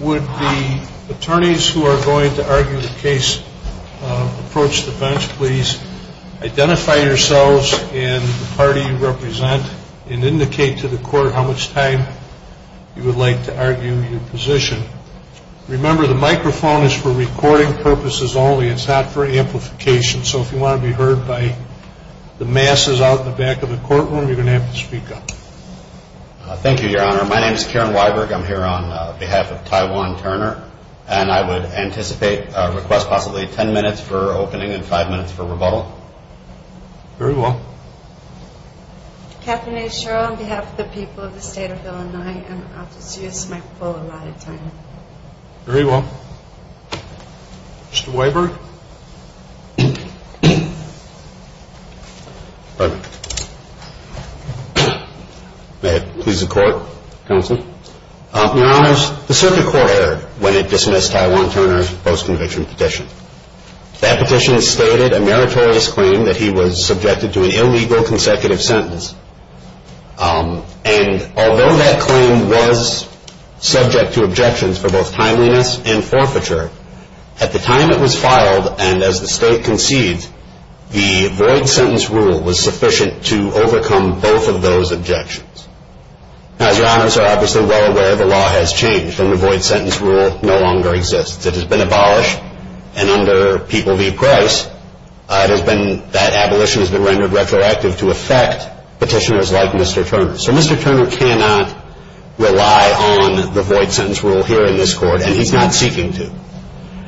Would the attorneys who are going to argue the case approach the bench please identify yourselves and the party you represent and indicate to the court how much time you would like to argue your position. Remember the microphone is for recording purposes only. It's not for amplification. So if you want to be heard by the masses out in the back of the courtroom you're going to have to speak up. Thank you your honor. My name is Karen Weiberg. I'm here on behalf of Ty Juan Turner and I would anticipate a request possibly 10 minutes for opening and 5 minutes for rebuttal. Very well. Katherine A. Sherrill on behalf of the people of the state of Illinois and I'll just use the microphone a lot of the time. Very well. Mr. Weiberg. Pardon me. May it please the court. Counsel. Your honors, the circuit court erred when it dismissed Ty Juan Turner's post conviction petition. That petition stated a meritorious claim that he was subjected to an illegal consecutive sentence. And although that claim was subject to objections for both timeliness and forfeiture, at the time it was filed and as the state concedes, the void sentence rule was sufficient to overcome both of those objections. Now as your honors are obviously well aware, the law has changed and the void sentence rule no longer exists. It has been abolished and under People v. Price, that abolition has been rendered retroactive to affect petitioners like Mr. Turner. So Mr. Turner cannot rely on the void sentence rule here in this court and he's not seeking to.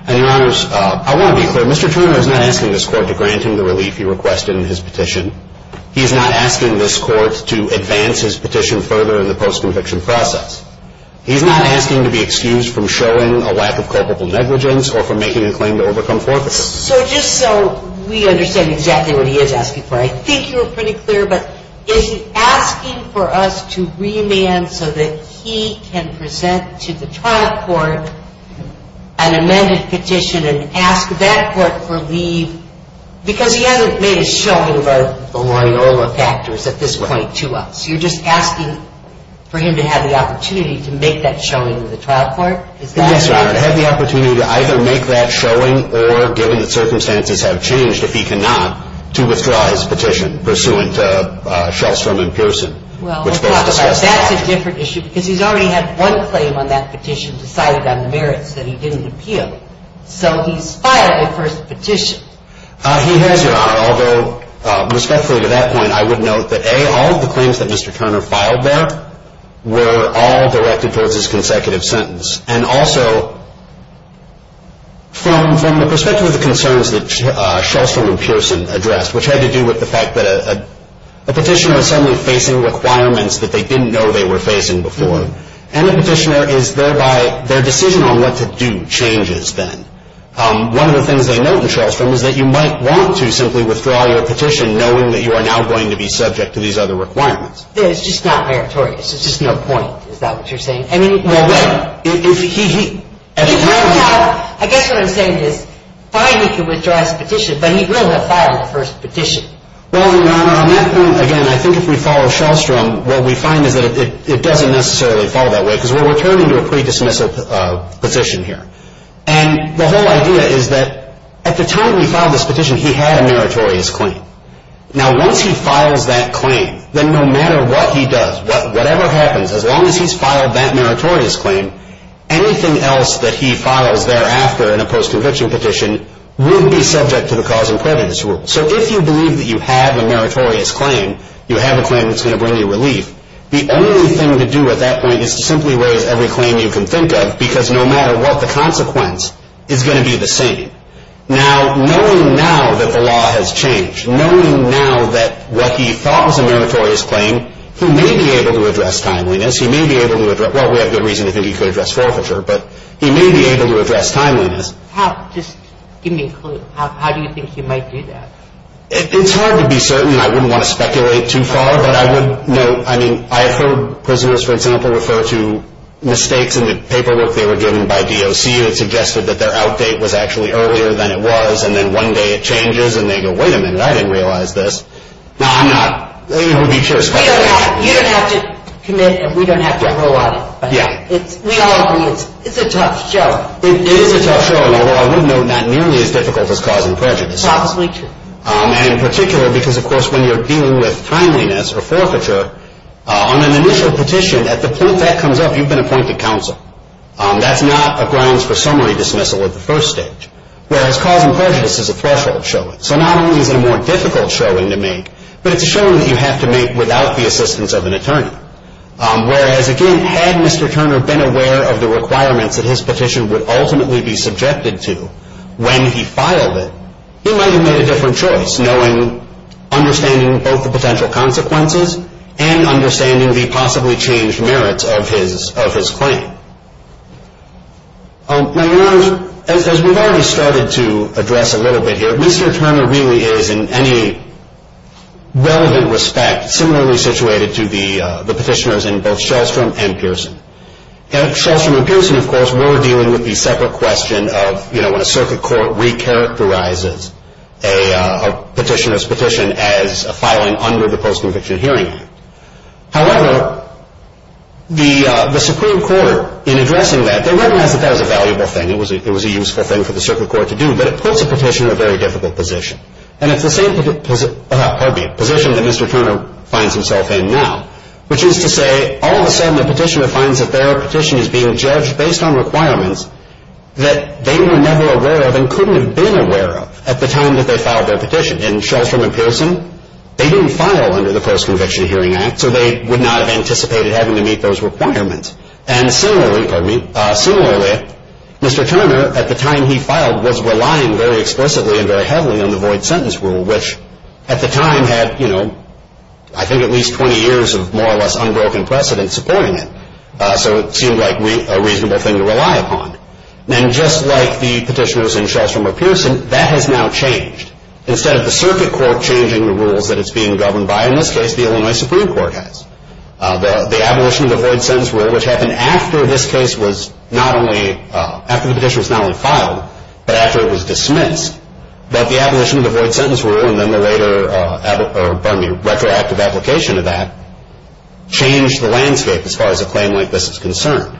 And your honors, I want to be clear. Mr. Turner is not asking this court to grant him the relief he requested in his petition. He's not asking this court to advance his petition further in the post conviction process. He's not asking to be excused from showing a lack of culpable negligence or from making a claim to overcome forfeiture. So just so we understand exactly what he is asking for, I think you were pretty clear. But is he asking for us to remand so that he can present to the trial court an amended petition and ask that court for leave? Because he hasn't made a showing of the Loyola factors at this point to us. You're just asking for him to have the opportunity to make that showing to the trial court? Yes, your honor, to have the opportunity to either make that showing or given that circumstances have changed, if he cannot, to withdraw his petition pursuant to Shultz, Frum, and Pearson. Well, that's a different issue because he's already had one claim on that petition decided on the merits that he didn't appeal. So he's filed a first petition. He has, your honor, although respectfully to that point, I would note that, A, all of the claims that Mr. Turner filed there were all directed towards his consecutive sentence. And also, from the perspective of the concerns that Shultz, Frum, and Pearson addressed, which had to do with the fact that a petitioner is suddenly facing requirements that they didn't know they were facing before, and a petitioner is thereby, their decision on what to do changes then. One of the things they note in Shultz, Frum, is that you might want to simply withdraw your petition, knowing that you are now going to be subject to these other requirements. It's just not meritorious. It's just no point. Is that what you're saying? I mean, well, wait. If he, as a trial court. I guess what I'm saying is, fine, he can withdraw his petition, but he will have filed the first petition. Well, your honor, on that point, again, I think if we follow Shultz, Frum, what we find is that it doesn't necessarily fall that way, because we're returning to a pre-dismissal position here. And the whole idea is that at the time he filed this petition, he had a meritorious claim. Now, once he files that claim, then no matter what he does, whatever happens, as long as he's filed that meritorious claim, anything else that he files thereafter in a post-conviction petition would be subject to the cause and prevention rule. So if you believe that you have a meritorious claim, you have a claim that's going to bring you relief, the only thing to do at that point is to simply raise every claim you can think of, because no matter what the consequence, it's going to be the same. Now, knowing now that the law has changed, knowing now that what he thought was a meritorious claim, he may be able to address timeliness. He may be able to address – well, we have good reason to think he could address forfeiture, but he may be able to address timeliness. Just give me a clue. How do you think he might do that? It's hard to be certain. I wouldn't want to speculate too far, but I would note – I mean, I have heard prisoners, for example, refer to mistakes in the paperwork they were given by DOC that suggested that their outdate was actually earlier than it was, and then one day it changes, and they go, wait a minute, I didn't realize this. Now, I'm not – you don't have to commit, and we don't have to rule out it. Yeah. We all agree it's a tough show. It is a tough show, and although I would note not nearly as difficult as causing prejudice. Probably true. And in particular because, of course, when you're dealing with timeliness or forfeiture, on an initial petition, at the point that comes up, you've been appointed counsel. That's not a grounds for summary dismissal at the first stage. Whereas causing prejudice is a threshold showing. So not only is it a more difficult showing to make, but it's a showing that you have to make without the assistance of an attorney. Whereas, again, had Mr. Turner been aware of the requirements that his petition would ultimately be subjected to when he filed it, he might have made a different choice, knowing – understanding both the potential consequences and understanding the possibly changed merits of his claim. Now, Your Honors, as we've already started to address a little bit here, Mr. Turner really is, in any relevant respect, similarly situated to the petitioners in both Shellstrom and Pearson. At Shellstrom and Pearson, of course, we're dealing with the separate question of, you know, when a circuit court recharacterizes a petitioner's petition as a filing under the Post-Conviction Hearing Act. However, the Supreme Court, in addressing that, they recognized that that was a valuable thing. It was a useful thing for the circuit court to do. But it puts a petitioner in a very difficult position. And it's the same position that Mr. Turner finds himself in now, which is to say all of a sudden the petitioner finds that their petition is being judged based on requirements that they were never aware of and couldn't have been aware of at the time that they filed their petition. In Shellstrom and Pearson, they didn't file under the Post-Conviction Hearing Act, so they would not have anticipated having to meet those requirements. And similarly, Mr. Turner, at the time he filed, was relying very explicitly and very heavily on the void sentence rule, which at the time had, you know, I think at least 20 years of more or less unbroken precedent supporting it. So it seemed like a reasonable thing to rely upon. And just like the petitioners in Shellstrom or Pearson, that has now changed. Instead of the circuit court changing the rules that it's being governed by, in this case, the Illinois Supreme Court has. The abolition of the void sentence rule, which happened after this case was not only, after the petition was not only filed, but after it was dismissed, that the abolition of the void sentence rule and then the later retroactive application of that changed the landscape as far as a claim like this is concerned.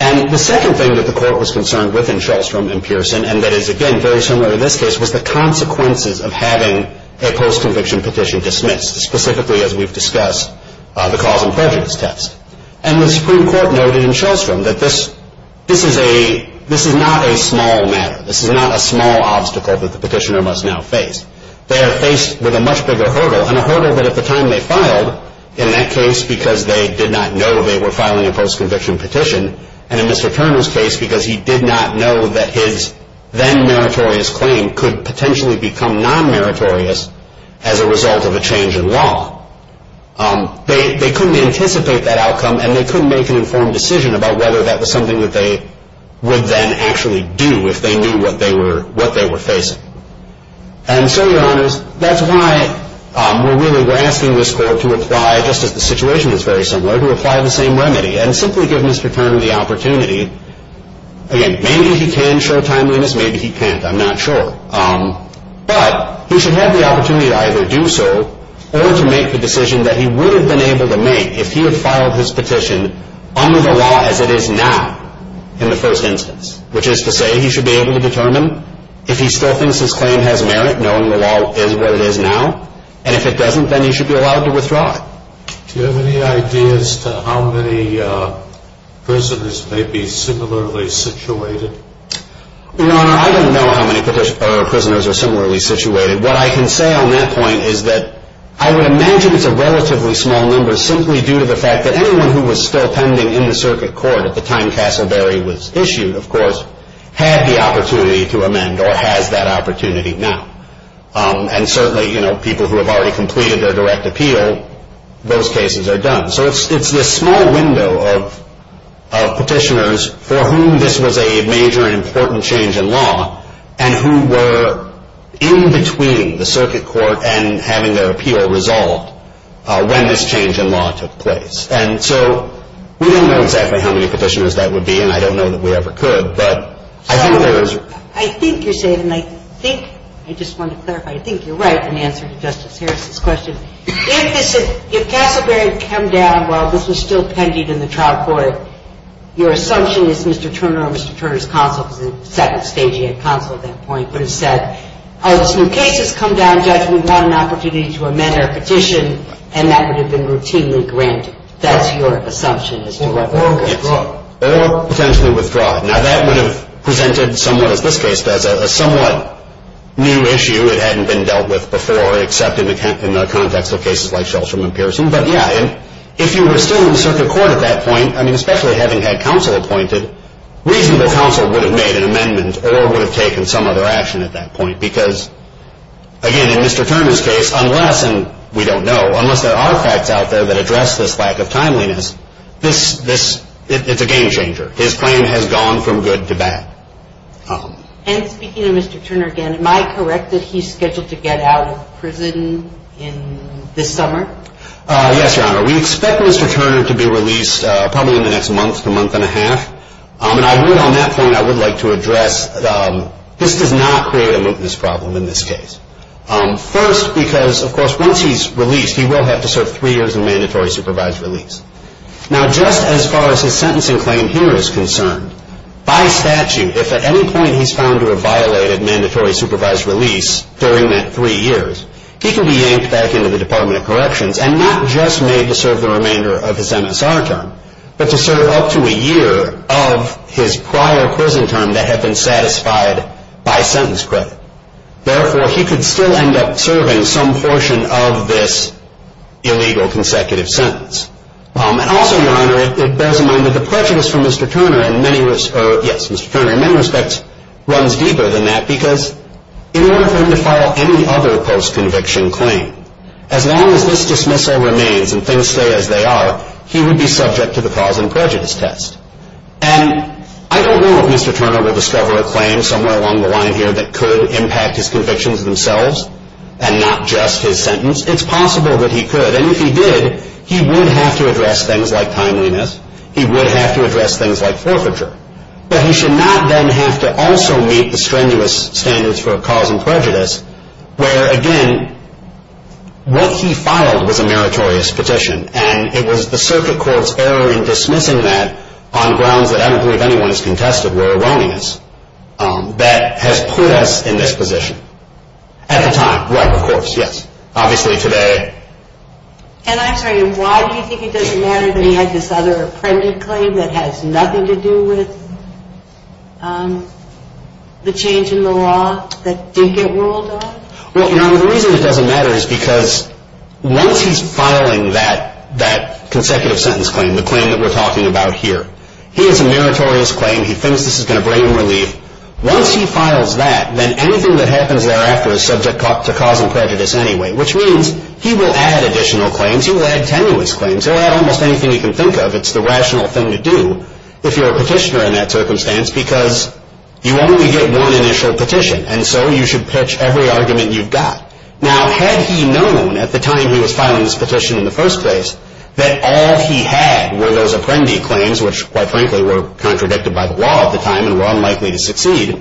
And the second thing that the court was concerned with in Shellstrom and Pearson, and that is again very similar to this case, was the consequences of having a post-conviction petition dismissed, specifically, as we've discussed, the cause and prejudice test. And the Supreme Court noted in Shellstrom that this is a, this is not a small matter. This is not a small obstacle that the petitioner must now face. They are faced with a much bigger hurdle, and a hurdle that at the time they filed, in that case because they did not know they were filing a post-conviction petition, and in Mr. Turner's case because he did not know that his then meritorious claim could potentially become non-meritorious as a result of a change in law, they couldn't anticipate that outcome and they couldn't make an informed decision about whether that was something that they would then actually do if they knew what they were, what they were facing. And so, Your Honors, that's why we're really, we're asking this court to apply, just as the situation is very similar, to apply the same remedy and simply give Mr. Turner the opportunity. Again, maybe he can show timeliness, maybe he can't, I'm not sure. But he should have the opportunity to either do so or to make the decision that he would have been able to make if he had filed his petition under the law as it is now in the first instance, which is to say he should be able to determine if he still thinks his claim has merit, knowing the law is what it is now, and if it doesn't, then he should be allowed to withdraw it. Do you have any ideas to how many prisoners may be similarly situated? Your Honor, I don't know how many prisoners are similarly situated. What I can say on that point is that I would imagine it's a relatively small number simply due to the fact that anyone who was still pending in the circuit court at the time Castleberry was issued, of course, had the opportunity to amend or has that opportunity now. And certainly, you know, people who have already completed their direct appeal, those cases are done. So it's this small window of petitioners for whom this was a major and important change in law and who were in between the circuit court and having their appeal resolved when this change in law took place. And so we don't know exactly how many petitioners that would be, and I don't know that we ever could. But I think there is. I think you're saying, and I think, I just want to clarify, I think you're right in answer to Justice Harris's question. If this, if Castleberry had come down while this was still pending in the trial court, your assumption is Mr. Turner or Mr. Turner's counsel, who was a second-staging counsel at that point, would have said, oh, this new case has come down, Judge, we want an opportunity to amend our petition, and that would have been routinely granted. That's your assumption as to whether they would withdraw. Or potentially withdraw. Now, that would have presented somewhat, as this case does, a somewhat new issue. It hadn't been dealt with before, except in the context of cases like Shelstrom and Pearson. But, yeah, if you were still in circuit court at that point, I mean, especially having had counsel appointed, reasonable counsel would have made an amendment or would have taken some other action at that point. Because, again, in Mr. Turner's case, unless, and we don't know, unless there are facts out there that address this lack of timeliness, this, it's a game changer. His claim has gone from good to bad. And speaking of Mr. Turner again, am I correct that he's scheduled to get out of prison in this summer? Yes, Your Honor. We expect Mr. Turner to be released probably in the next month, a month and a half. And I would, on that point, I would like to address, this does not create a mootness problem in this case. First, because, of course, once he's released, he will have to serve three years in mandatory supervised release. Now, just as far as his sentencing claim here is concerned, by statute, if at any point he's found to have violated mandatory supervised release during that three years, he can be yanked back into the Department of Corrections and not just made to serve the remainder of his MSR term, but to serve up to a year of his prior prison term that had been satisfied by sentence credit. Therefore, he could still end up serving some portion of this illegal consecutive sentence. And also, Your Honor, it bears in mind that the prejudice for Mr. Turner in many respects, yes, Mr. Turner in many respects runs deeper than that because in order for him to file any other post-conviction claim, as long as this dismissal remains and things stay as they are, he would be subject to the cause and prejudice test. And I don't know if Mr. Turner will discover a claim somewhere along the line here that could impact his convictions themselves and not just his sentence. It's possible that he could. And if he did, he would have to address things like timeliness. He would have to address things like forfeiture. But he should not then have to also meet the strenuous standards for cause and prejudice, where, again, what he filed was a meritorious petition, and it was the circuit court's error in dismissing that on grounds that I don't believe anyone has contested were erroneous that has put us in this position. At the time, right, of course, yes. Obviously, today. And I'm sorry, why do you think it doesn't matter that he had this other apprentice claim that has nothing to do with the change in the law that did get ruled on? Well, you know, the reason it doesn't matter is because once he's filing that consecutive sentence claim, the claim that we're talking about here, he has a meritorious claim, he thinks this is going to bring him relief. Once he files that, then anything that happens thereafter is subject to cause and prejudice anyway, which means he will add additional claims, he will add tenuous claims, he'll add almost anything he can think of. It's the rational thing to do if you're a petitioner in that circumstance because you only get one initial petition. And so you should pitch every argument you've got. Now, had he known at the time he was filing this petition in the first place that all he had were those apprendee claims, which quite frankly were contradicted by the law at the time and were unlikely to succeed,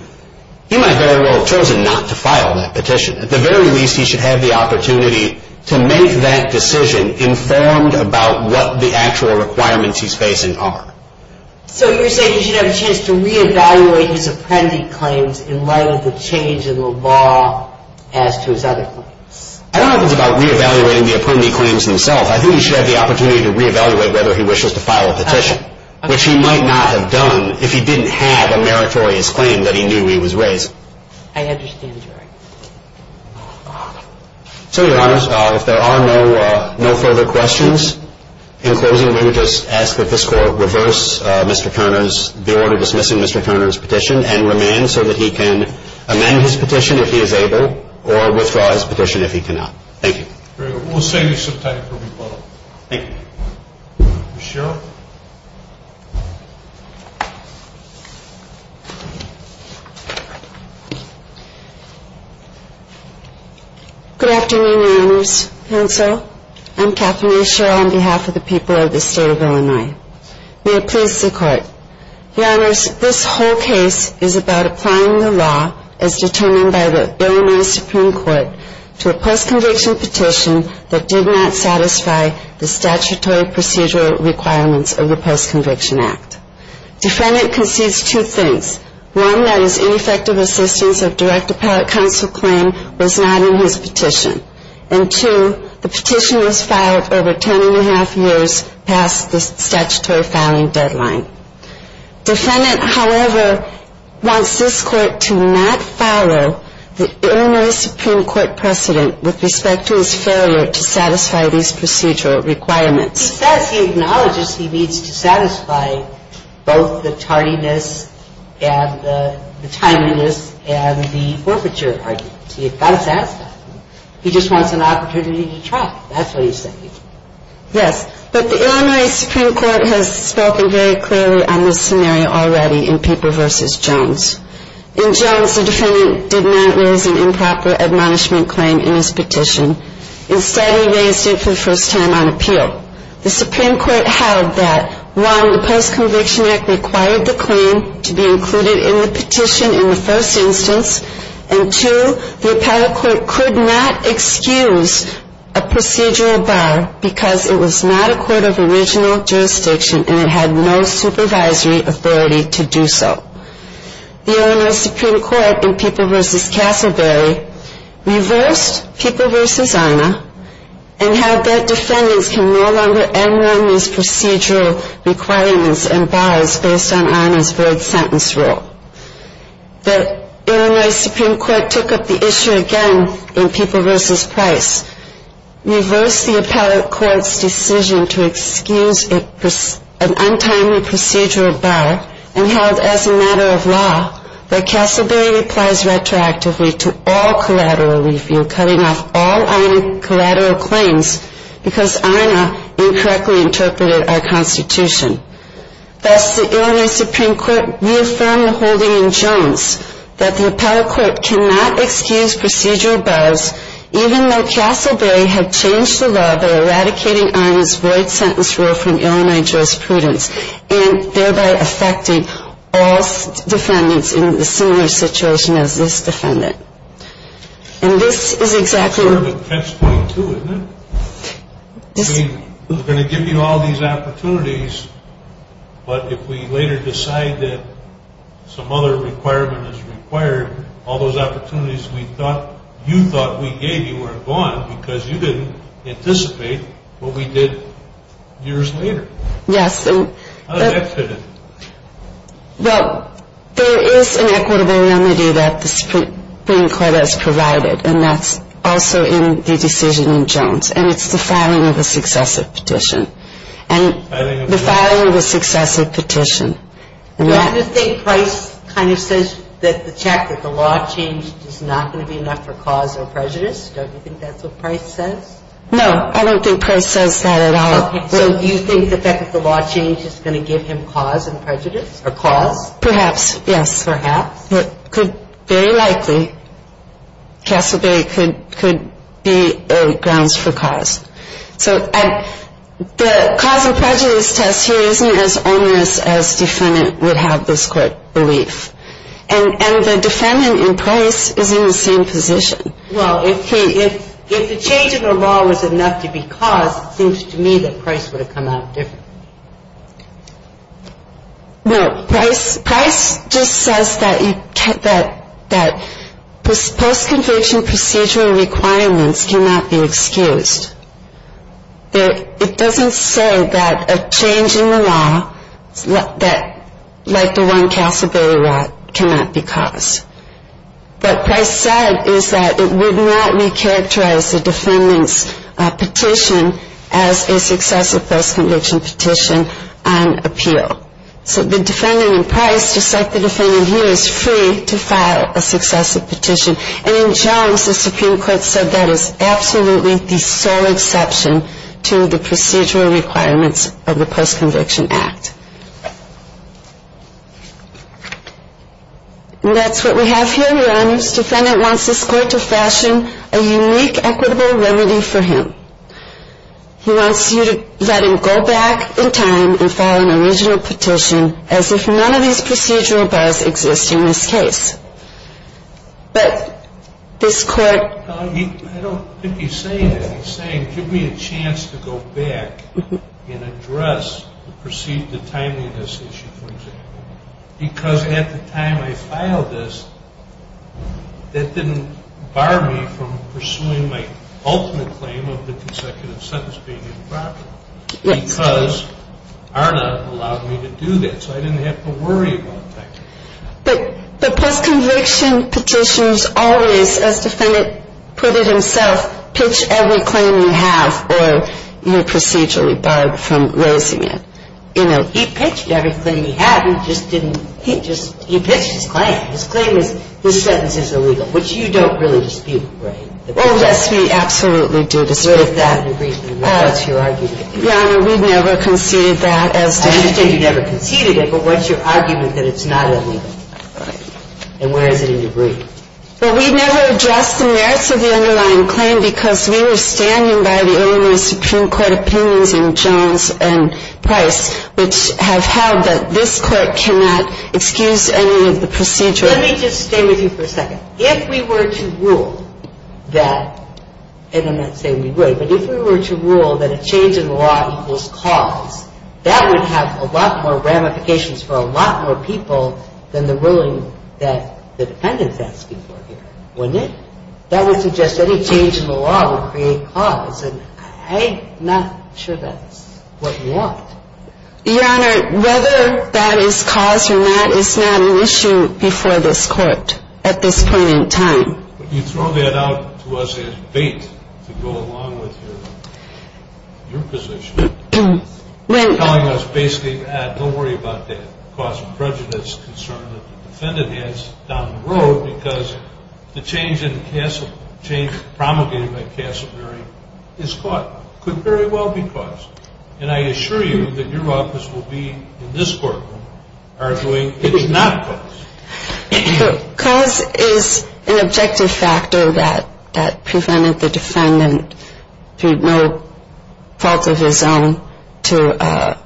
he might very well have chosen not to file that petition. At the very least, he should have the opportunity to make that decision informed about what the actual requirements he's facing are. So you're saying he should have a chance to re-evaluate his apprendee claims in light of the change in the law as to his other claims? I don't know if it's about re-evaluating the apprendee claims themselves. I think he should have the opportunity to re-evaluate whether he wishes to file a petition, which he might not have done if he didn't have a meritorious claim that he knew he was raised. I understand, Your Honor. So, Your Honors, if there are no further questions, in closing we would just ask that this Court reverse Mr. Turner's, the order dismissing Mr. Turner's petition and remand so that he can amend his petition if he is able or withdraw his petition if he cannot. Thank you. Very good. We'll save you some time for rebuttal. Ms. Sherrill? Good afternoon, Your Honors. Counsel, I'm Kathleen Sherrill on behalf of the people of the State of Illinois. May it please the Court. Your Honors, this whole case is about applying the law as determined by the Illinois Supreme Court to a post-conviction petition that did not satisfy the statutory procedural requirements of the Post-Conviction Act. Defendant concedes two things. One, that his ineffective assistance of direct appellate counsel claim was not in his petition. And two, the petition was filed over ten and a half years past the statutory filing deadline. Defendant, however, wants this Court to not follow the Illinois Supreme Court precedent with respect to his failure to satisfy these procedural requirements. He says he acknowledges he needs to satisfy both the tardiness and the timeliness and the forfeiture arguments. He acknowledges that. He just wants an opportunity to try. That's what he's saying. Yes. But the Illinois Supreme Court has spoken very clearly on this scenario already in Paper v. Jones. In Jones, the defendant did not raise an improper admonishment claim in his petition. Instead, he raised it for the first time on appeal. The Supreme Court held that, one, the Post-Conviction Act required the claim to be included in the petition in the first instance. And, two, the appellate court could not excuse a procedural bar because it was not a court of original jurisdiction and it had no supervisory authority to do so. The Illinois Supreme Court in Paper v. Castleberry reversed Paper v. INA and held that defendants can no longer enroll in these procedural requirements and bars based on INA's void sentence rule. The Illinois Supreme Court took up the issue again in Paper v. Price, reversed the appellate court's decision to excuse an untimely procedural bar and held, as a matter of law, that Castleberry applies retroactively to all collateral relief in cutting off all INA collateral claims because INA incorrectly interpreted our Constitution. Thus, the Illinois Supreme Court reaffirmed the holding in Jones that the appellate court cannot excuse procedural bars even though Castleberry had changed the law by eradicating INA's void sentence rule from Illinois jurisprudence and thereby affecting all defendants in a similar situation as this defendant. And this is exactly... It's sort of a catch-22, isn't it? We're going to give you all these opportunities, but if we later decide that some other requirement is required, all those opportunities you thought we gave you are gone because you didn't anticipate what we did years later. Yes. How does that fit in? Well, there is an equitable remedy that the Supreme Court has provided, and that's also in the decision in Jones. And it's the filing of a successive petition. And the filing of a successive petition... Don't you think Price kind of says that the check that the law changed is not going to be enough for cause or prejudice? Don't you think that's what Price says? No, I don't think Price says that at all. Okay, so you think the fact that the law changed is going to give him cause and prejudice or cause? Perhaps, yes. Perhaps? Very likely. Castle Bay could be grounds for cause. So the cause and prejudice test here isn't as onerous as defendant would have this court believe. And the defendant in Price is in the same position. Well, if the change of the law was enough to be cause, it seems to me that Price would have come out differently. No, Price just says that post-conviction procedural requirements cannot be excused. It doesn't say that a change in the law, like the one Castle Bay wrote, cannot be cause. What Price said is that it would not recharacterize the defendant's petition as a successive post-conviction petition on appeal. So the defendant in Price, just like the defendant here, is free to file a successive petition. And in Jones, the Supreme Court said that is absolutely the sole exception to the procedural requirements of the Post-Conviction Act. And that's what we have here. Your Honor, this defendant wants this court to fashion a unique equitable remedy for him. He wants you to let him go back in time and file an original petition as if none of these procedural bars exist in this case. But this court... I don't think he's saying that. He's saying, give me a chance to go back and address the perceived timeliness issue, for example. Because at the time I filed this, that didn't bar me from pursuing my ultimate claim of the consecutive sentence being improper. Because ARDA allowed me to do that, so I didn't have to worry about that. But post-conviction petitions always, as the defendant put it himself, pitch every claim you have, or you're procedurally barred from raising it. You know, he pitched every claim he had. He just didn't... He just... He pitched his claim. His claim is, his sentence is illegal, which you don't really dispute, right? Oh, yes, we absolutely do dispute that. What is the reason? What's your argument? Your Honor, we've never conceded that as to... And where is it in your brief? Well, we've never addressed the merits of the underlying claim because we were standing by the Illinois Supreme Court opinions in Jones and Price, which have held that this court cannot excuse any of the procedural... Let me just stay with you for a second. If we were to rule that... And I'm not saying we would, but if we were to rule that a change in the law equals cause, that would have a lot more ramifications for a lot more people than the ruling that the defendant's asking for here, wouldn't it? That would suggest any change in the law would create cause, and I'm not sure that's what we want. Your Honor, whether that is cause or not is not an issue before this Court at this point in time. But you throw that out to us as bait to go along with your position. You're telling us basically, don't worry about the cause of prejudice concern that the defendant has down the road because the change promulgated by Castleberry is cause. Could very well be cause. And I assure you that your office will be in this courtroom arguing it is not cause. Cause is an objective factor that prevented the defendant through no fault of his own to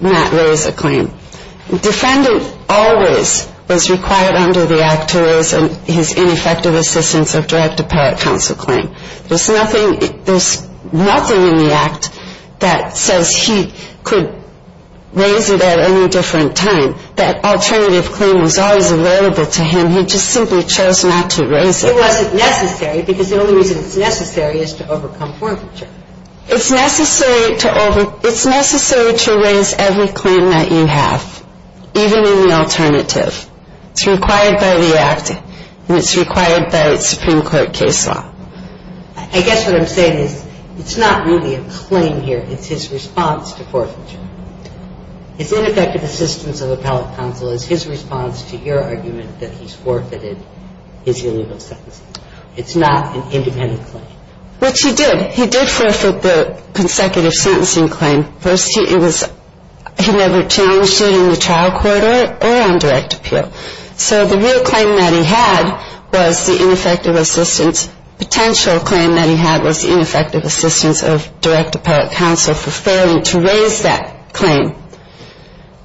not raise a claim. The defendant always was required under the Act to raise his ineffective assistance of direct apparent counsel claim. There's nothing in the Act that says he could raise it at any different time. That alternative claim was always available to him. He just simply chose not to raise it. It wasn't necessary because the only reason it's necessary is to overcome forfeiture. It's necessary to raise every claim that you have, even in the alternative. It's required by the Act, and it's required by Supreme Court case law. I guess what I'm saying is it's not really a claim here. It's his response to forfeiture. His ineffective assistance of appellate counsel is his response to your argument that he's forfeited his illegal sentences. It's not an independent claim. Which he did. He did forfeit the consecutive sentencing claim. First, he never challenged it in the trial court or on direct appeal. So the real claim that he had was the ineffective assistance. Potential claim that he had was ineffective assistance of direct appellate counsel for failing to raise that claim.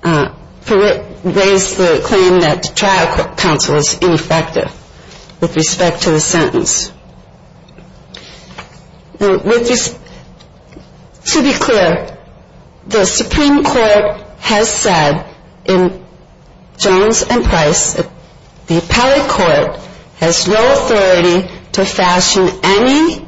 To raise the claim that trial counsel is ineffective with respect to the sentence. To be clear, the Supreme Court has said in Jones and Price that the appellate court has no authority to fashion any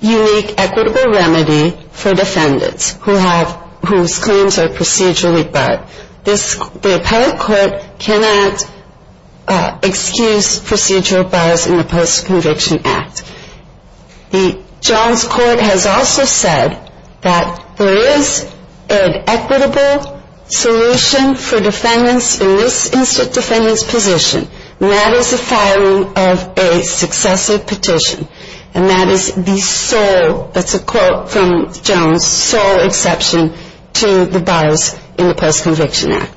unique equitable remedy for defendants whose claims are procedurally barred. The appellate court cannot excuse procedural bars in the Post-Conviction Act. The Jones court has also said that there is an equitable solution for defendants in this instant defendant's position, and that is the filing of a successive petition. And that is the sole, that's a quote from Jones, sole exception to the bars in the Post-Conviction Act.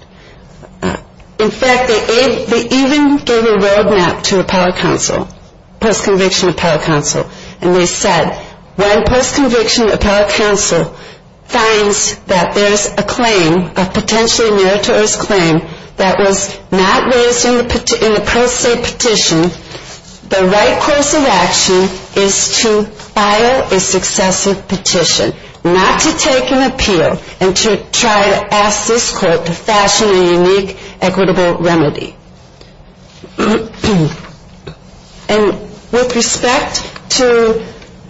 In fact, they even gave a roadmap to appellate counsel, post-conviction appellate counsel, and they said when post-conviction appellate counsel finds that there's a claim, a potentially meritorious claim that was not raised in the pro se petition, the right course of action is to file a successive petition, not to take an appeal and to try to ask this court to fashion a unique equitable remedy. And with respect to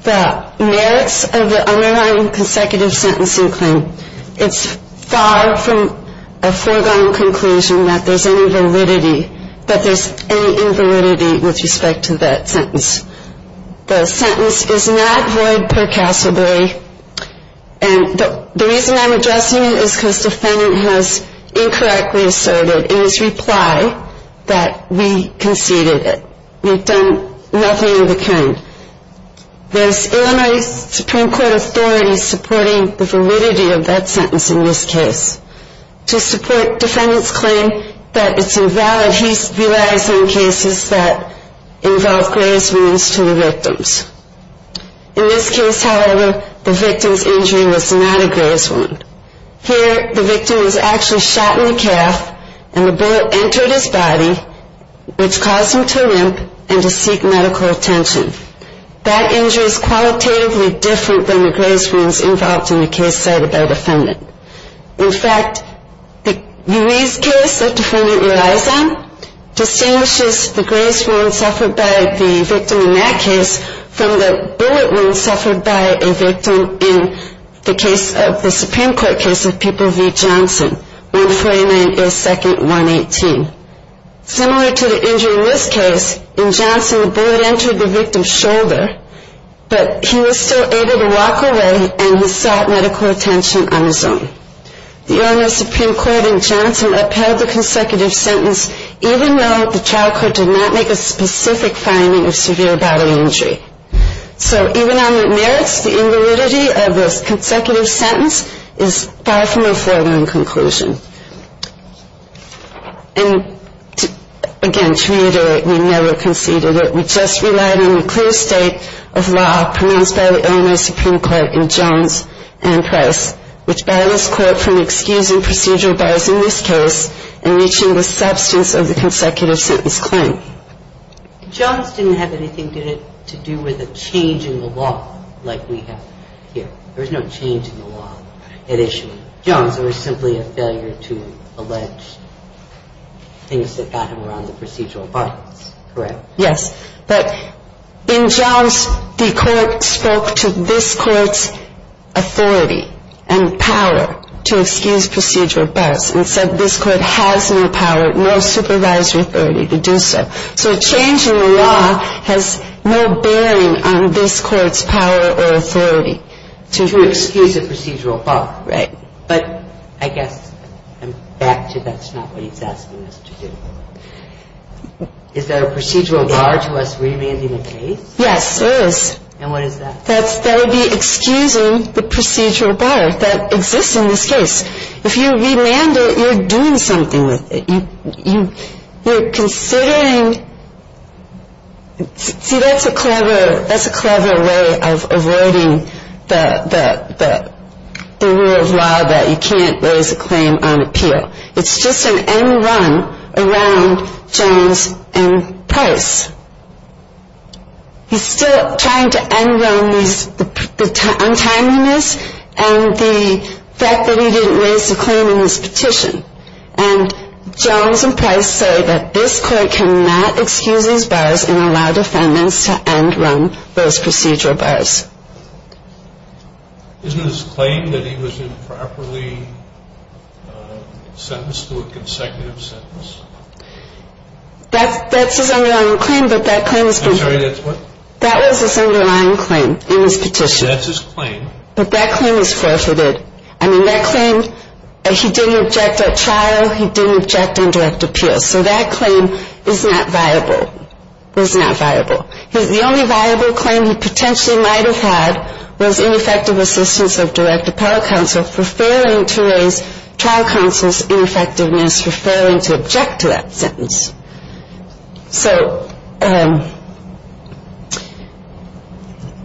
the merits of the underlying consecutive sentencing claim, it's far from a foregone conclusion that there's any validity, that there's any invalidity with respect to that sentence. The sentence is not void percassibly, and the reason I'm addressing it is because the defendant has incorrectly asserted in his reply that we conceded it, we've done nothing of the kind. There's Illinois Supreme Court authority supporting the validity of that sentence in this case. To support defendant's claim that it's invalid, he relies on cases that involve graze wounds to the victims. In this case, however, the victim's injury was not a graze wound. Here, the victim was actually shot in the calf, and the bullet entered his body, which caused him to limp and to seek medical attention. That injury is qualitatively different than the graze wounds involved in the case said by the defendant. In fact, the case that the defendant relies on distinguishes the graze wound suffered by the victim in that case from the bullet wound suffered by a victim in the case of the Supreme Court case of People v. Johnson, 149A2-118. Similar to the injury in this case, in Johnson, the bullet entered the victim's shoulder, but he was still able to walk away, and he sought medical attention on his own. The Illinois Supreme Court in Johnson upheld the consecutive sentence, even though the trial court did not make a specific finding of severe body injury. So even on the merits, the invalidity of the consecutive sentence is far from a foregone conclusion. And, again, to reiterate, we never conceded it. We just relied on the clear state of law pronounced by the Illinois Supreme Court in Johns and Press, which bailed us, quote, from excusing procedural bias in this case and reaching the substance of the consecutive sentence claim. Johns didn't have anything to do with a change in the law like we have here. There was no change in the law at issue. In Johns, there was simply a failure to allege things that got him around the procedural bias, correct? Yes. But in Johns, the court spoke to this court's authority and power to excuse procedural bias and said this court has no power, no supervisory authority to do so. So a change in the law has no bearing on this court's power or authority to excuse procedural bias. Right. But I guess I'm back to that's not what he's asking us to do. Is there a procedural bar to us remanding the case? Yes, there is. And what is that? That would be excusing the procedural bar that exists in this case. If you remand it, you're doing something with it. You're considering, see that's a clever way of avoiding the rule of law that you can't raise a claim on appeal. It's just an end run around Johns and Price. He's still trying to end run the untimeliness and the fact that he didn't raise a claim in this petition. And Johns and Price say that this court cannot excuse these bars and allow defendants to end run those procedural bars. Isn't his claim that he was improperly sentenced to a consecutive sentence? That's his underlying claim, but that claim is forfeited. I'm sorry, that's what? That was his underlying claim in his petition. That's his claim. But that claim is forfeited. I mean, that claim, he didn't object at trial. He didn't object on direct appeal. So that claim is not viable. It's not viable. The only viable claim he potentially might have had was ineffective assistance of direct appellate counsel for failing to raise trial counsel's ineffectiveness, for failing to object to that sentence. So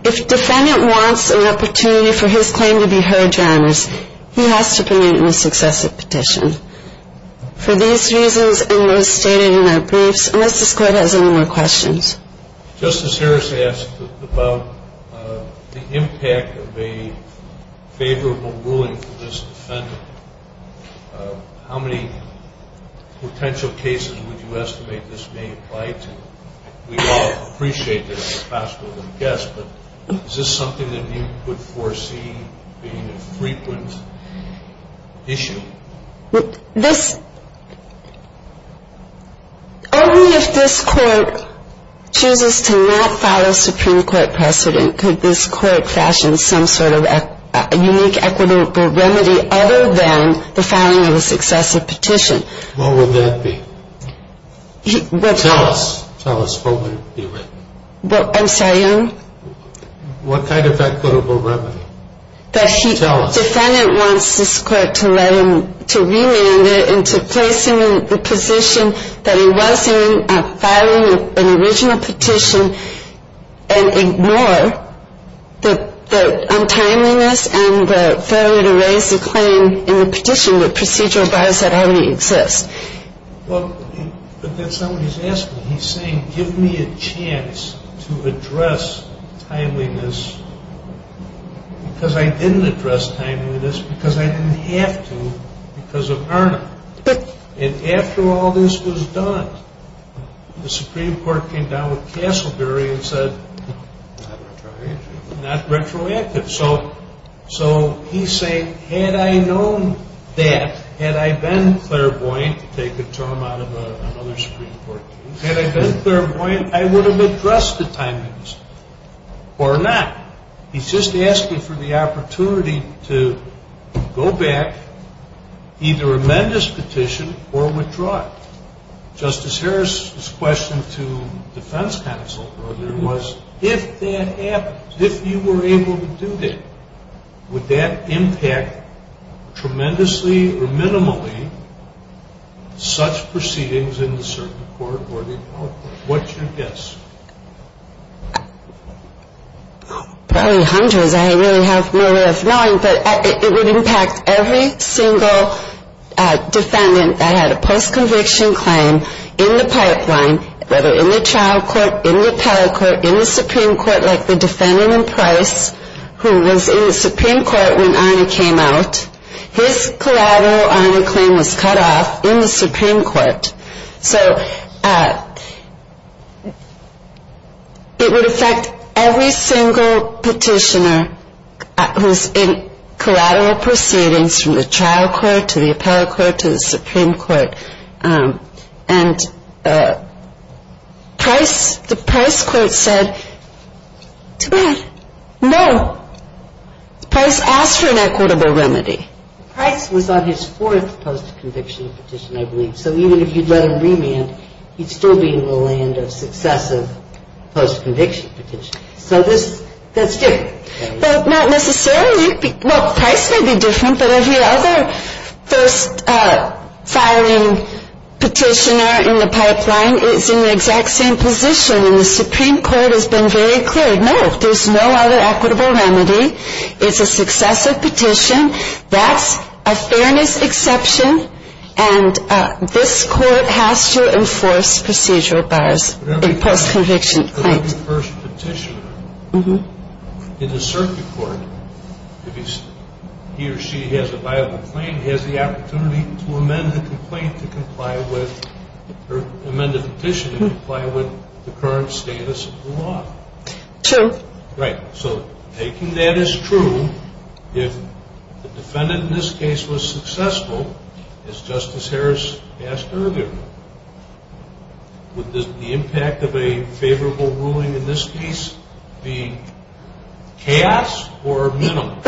if defendant wants an opportunity for his claim to be heard, John, he has to permit it in a successive petition. For these reasons and those stated in the briefs, unless this court has any more questions. Justice Harris asked about the impact of a favorable ruling for this defendant. How many potential cases would you estimate this may apply to? We all appreciate that as a possible guess, but is this something that you could foresee being a frequent issue? Only if this court chooses to not follow Supreme Court precedent could this court fashion some sort of unique equitable remedy other than the filing of a successive petition. What would that be? Tell us. Tell us what would it be like. Well, I'm sorry? What kind of equitable remedy? Tell us. The defendant wants this court to let him, to remand it and to place him in the position that he was in filing an original petition and ignore the untimeliness and the failure to raise the claim in the petition with procedural bars that already exist. But that's not what he's asking. He's saying give me a chance to address timeliness because I didn't address timeliness because I didn't have to because of Erna. And after all this was done, the Supreme Court came down with Castleberry and said not retroactive. So he's saying had I known that, had I been clairvoyant, take a term out of another Supreme Court case, had I been clairvoyant, I would have addressed the timeliness or not. He's just asking for the opportunity to go back, either amend this petition or withdraw it. Justice Harris's question to defense counsel earlier was if that happens, if you were able to do that, would that impact tremendously or minimally such proceedings in the certain court or the appellate court? What's your guess? Probably hundreds. I really have no way of knowing. But it would impact every single defendant that had a post-conviction claim in the pipeline, whether in the child court, in the appellate court, in the Supreme Court, like the defendant in Price who was in the Supreme Court when Erna came out. His collateral Erna claim was cut off in the Supreme Court. So it would affect every single petitioner who's in collateral proceedings from the child court to the appellate court to the Supreme Court. And Price, the Price court said, too bad. No. Price asked for an equitable remedy. Price was on his fourth post-conviction petition, I believe. So even if you'd let him remand, he'd still be in the land of successive post-conviction petitions. So that's different. Not necessarily. Well, Price may be different, but every other first-filing petitioner in the pipeline is in the exact same position. And the Supreme Court has been very clear, no, there's no other equitable remedy. It's a successive petition. That's a fairness exception. And this court has to enforce procedural bars in post-conviction. Every first petitioner in the circuit court, if he or she has a viable claim, has the opportunity to amend the complaint to comply with or amend the petition to comply with the current status of the law. True. Right. So taking that as true, if the defendant in this case was successful, as Justice Harris asked earlier, would the impact of a favorable ruling in this case be chaos or minimum?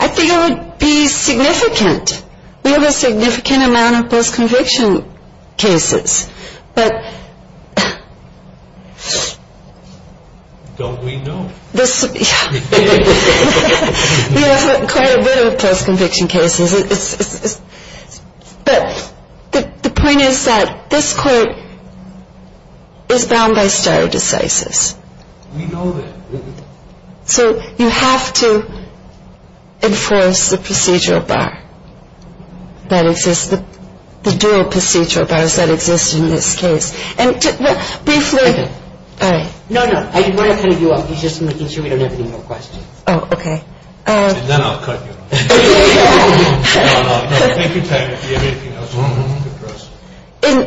I think it would be significant. We have a significant amount of post-conviction cases. Don't we know? Yeah. We have quite a bit of post-conviction cases. But the point is that this court is bound by stare decisis. We know that. So you have to enforce the procedural bar that exists, the dual procedural bars that exist in this case. And briefly — Okay. All right. No, no. I want to kind of you up. He's just making sure we don't have any more questions. Oh, okay. Then I'll cut you. No, no, no. Take your time if you have anything else you want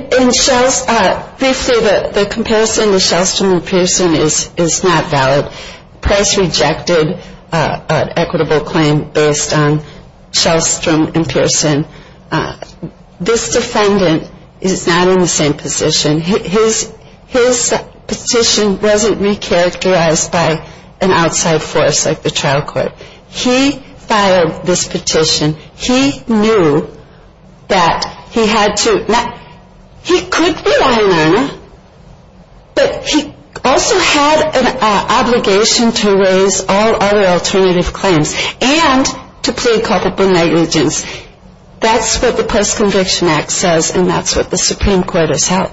to address. Briefly, the comparison to Shellstrom and Pearson is not valid. Price rejected an equitable claim based on Shellstrom and Pearson. This defendant is not in the same position. His petition wasn't recharacterized by an outside force like the trial court. He filed this petition. He knew that he had to — he could be a line learner, but he also had an obligation to raise all other alternative claims and to plead culpable negligence. That's what the Post-Conviction Act says, and that's what the Supreme Court has held.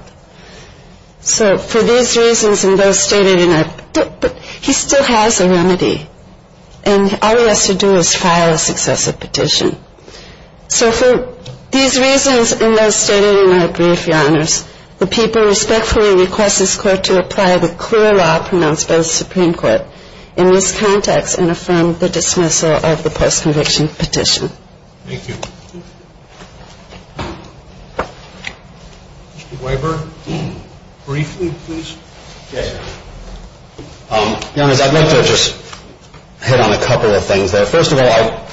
So for these reasons and those stated in it, he still has a remedy. And all he has to do is file a successive petition. So for these reasons and those stated in my brief, Your Honors, the people respectfully request this Court to apply the clear law pronounced by the Supreme Court in this context and affirm the dismissal of the post-conviction petition. Thank you. Mr. Weber, briefly, please. Yes, sir. Your Honors, I'd like to just hit on a couple of things there. First of all,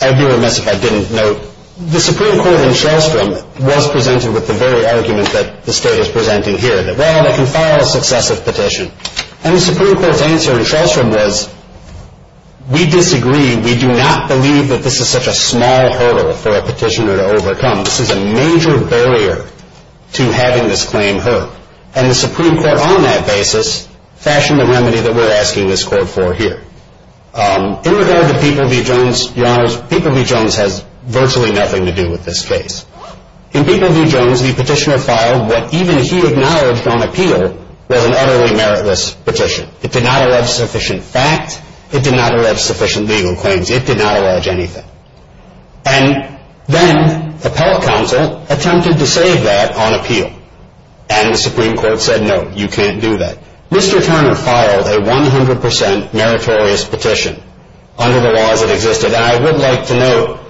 I'd be remiss if I didn't note the Supreme Court in Shellstrom was presented with the very argument that the State is presenting here, that, well, they can file a successive petition. And the Supreme Court's answer in Shellstrom was, we disagree. We do not believe that this is such a small hurdle for a petitioner to overcome. This is a major barrier to having this claim heard. And the Supreme Court on that basis fashioned a remedy that we're asking this Court for here. In regard to People v. Jones, Your Honors, People v. Jones has virtually nothing to do with this case. In People v. Jones, the petitioner filed what even he acknowledged on appeal was an utterly meritless petition. It did not allege sufficient fact. It did not allege sufficient legal claims. It did not allege anything. And then the appellate counsel attempted to save that on appeal. And the Supreme Court said, no, you can't do that. Mr. Turner filed a 100 percent meritorious petition under the laws that existed. And I would like to note,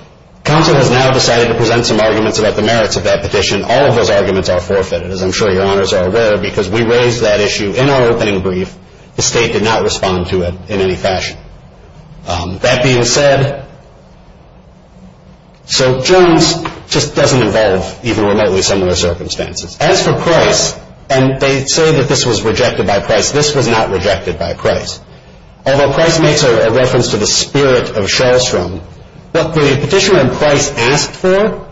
counsel has now decided to present some arguments about the merits of that petition. All of those arguments are forfeited, as I'm sure Your Honors are aware, because we raised that issue in our opening brief. The State did not respond to it in any fashion. That being said, so Jones just doesn't involve even remotely similar circumstances. As for Price, and they say that this was rejected by Price, this was not rejected by Price. Although Price makes a reference to the spirit of Charlestown, what the petitioner in Price asked for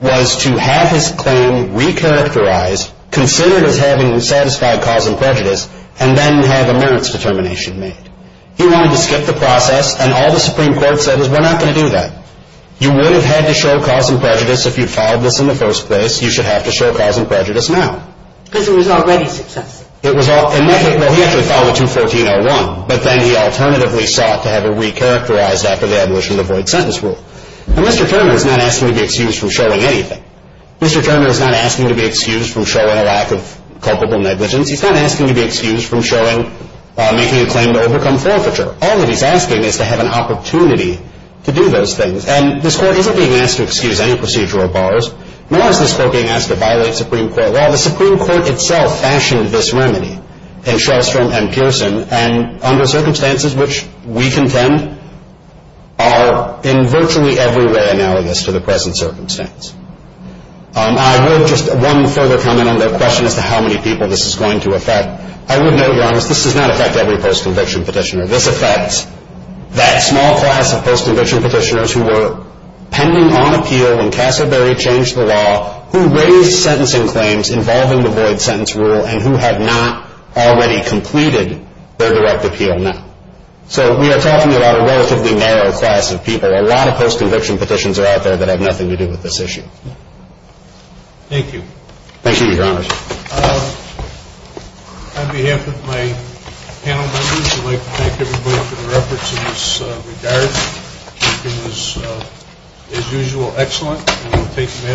was to have his claim recharacterized, considered as having satisfied cause and prejudice, and then have a merits determination made. He wanted to skip the process, and all the Supreme Court said is, we're not going to do that. You would have had to show cause and prejudice if you filed this in the first place. You should have to show cause and prejudice now. Because it was already successful. It was already successful. Well, he actually filed it in 1401. But then he alternatively sought to have it recharacterized after the abolition of the void sentence rule. And Mr. Turner is not asking to be excused from showing anything. Mr. Turner is not asking to be excused from showing a lack of culpable negligence. He's not asking to be excused from showing making a claim to overcome forfeiture. All that he's asking is to have an opportunity to do those things. And this Court isn't being asked to excuse any procedural bars, nor is this Court being asked to violate Supreme Court law. The Supreme Court itself fashioned this remedy in Charlestown and Pearson, and under circumstances which we contend are in virtually every way analogous to the present circumstance. I would just one further comment on the question as to how many people this is going to affect. I would note, to be honest, this does not affect every post-conviction petitioner. This affects that small class of post-conviction petitioners who were pending on appeal when Cassabury changed the law, who raised sentencing claims involving the void sentence rule, and who had not already completed their direct appeal now. So we are talking about a relatively narrow class of people. There are a lot of post-conviction petitions that are out there that have nothing to do with this issue. Thank you. Thank you, Your Honor. On behalf of my panel members, I'd like to thank everybody for their efforts in this regard. Everything was, as usual, excellent. We will take the matter under the Court's standing.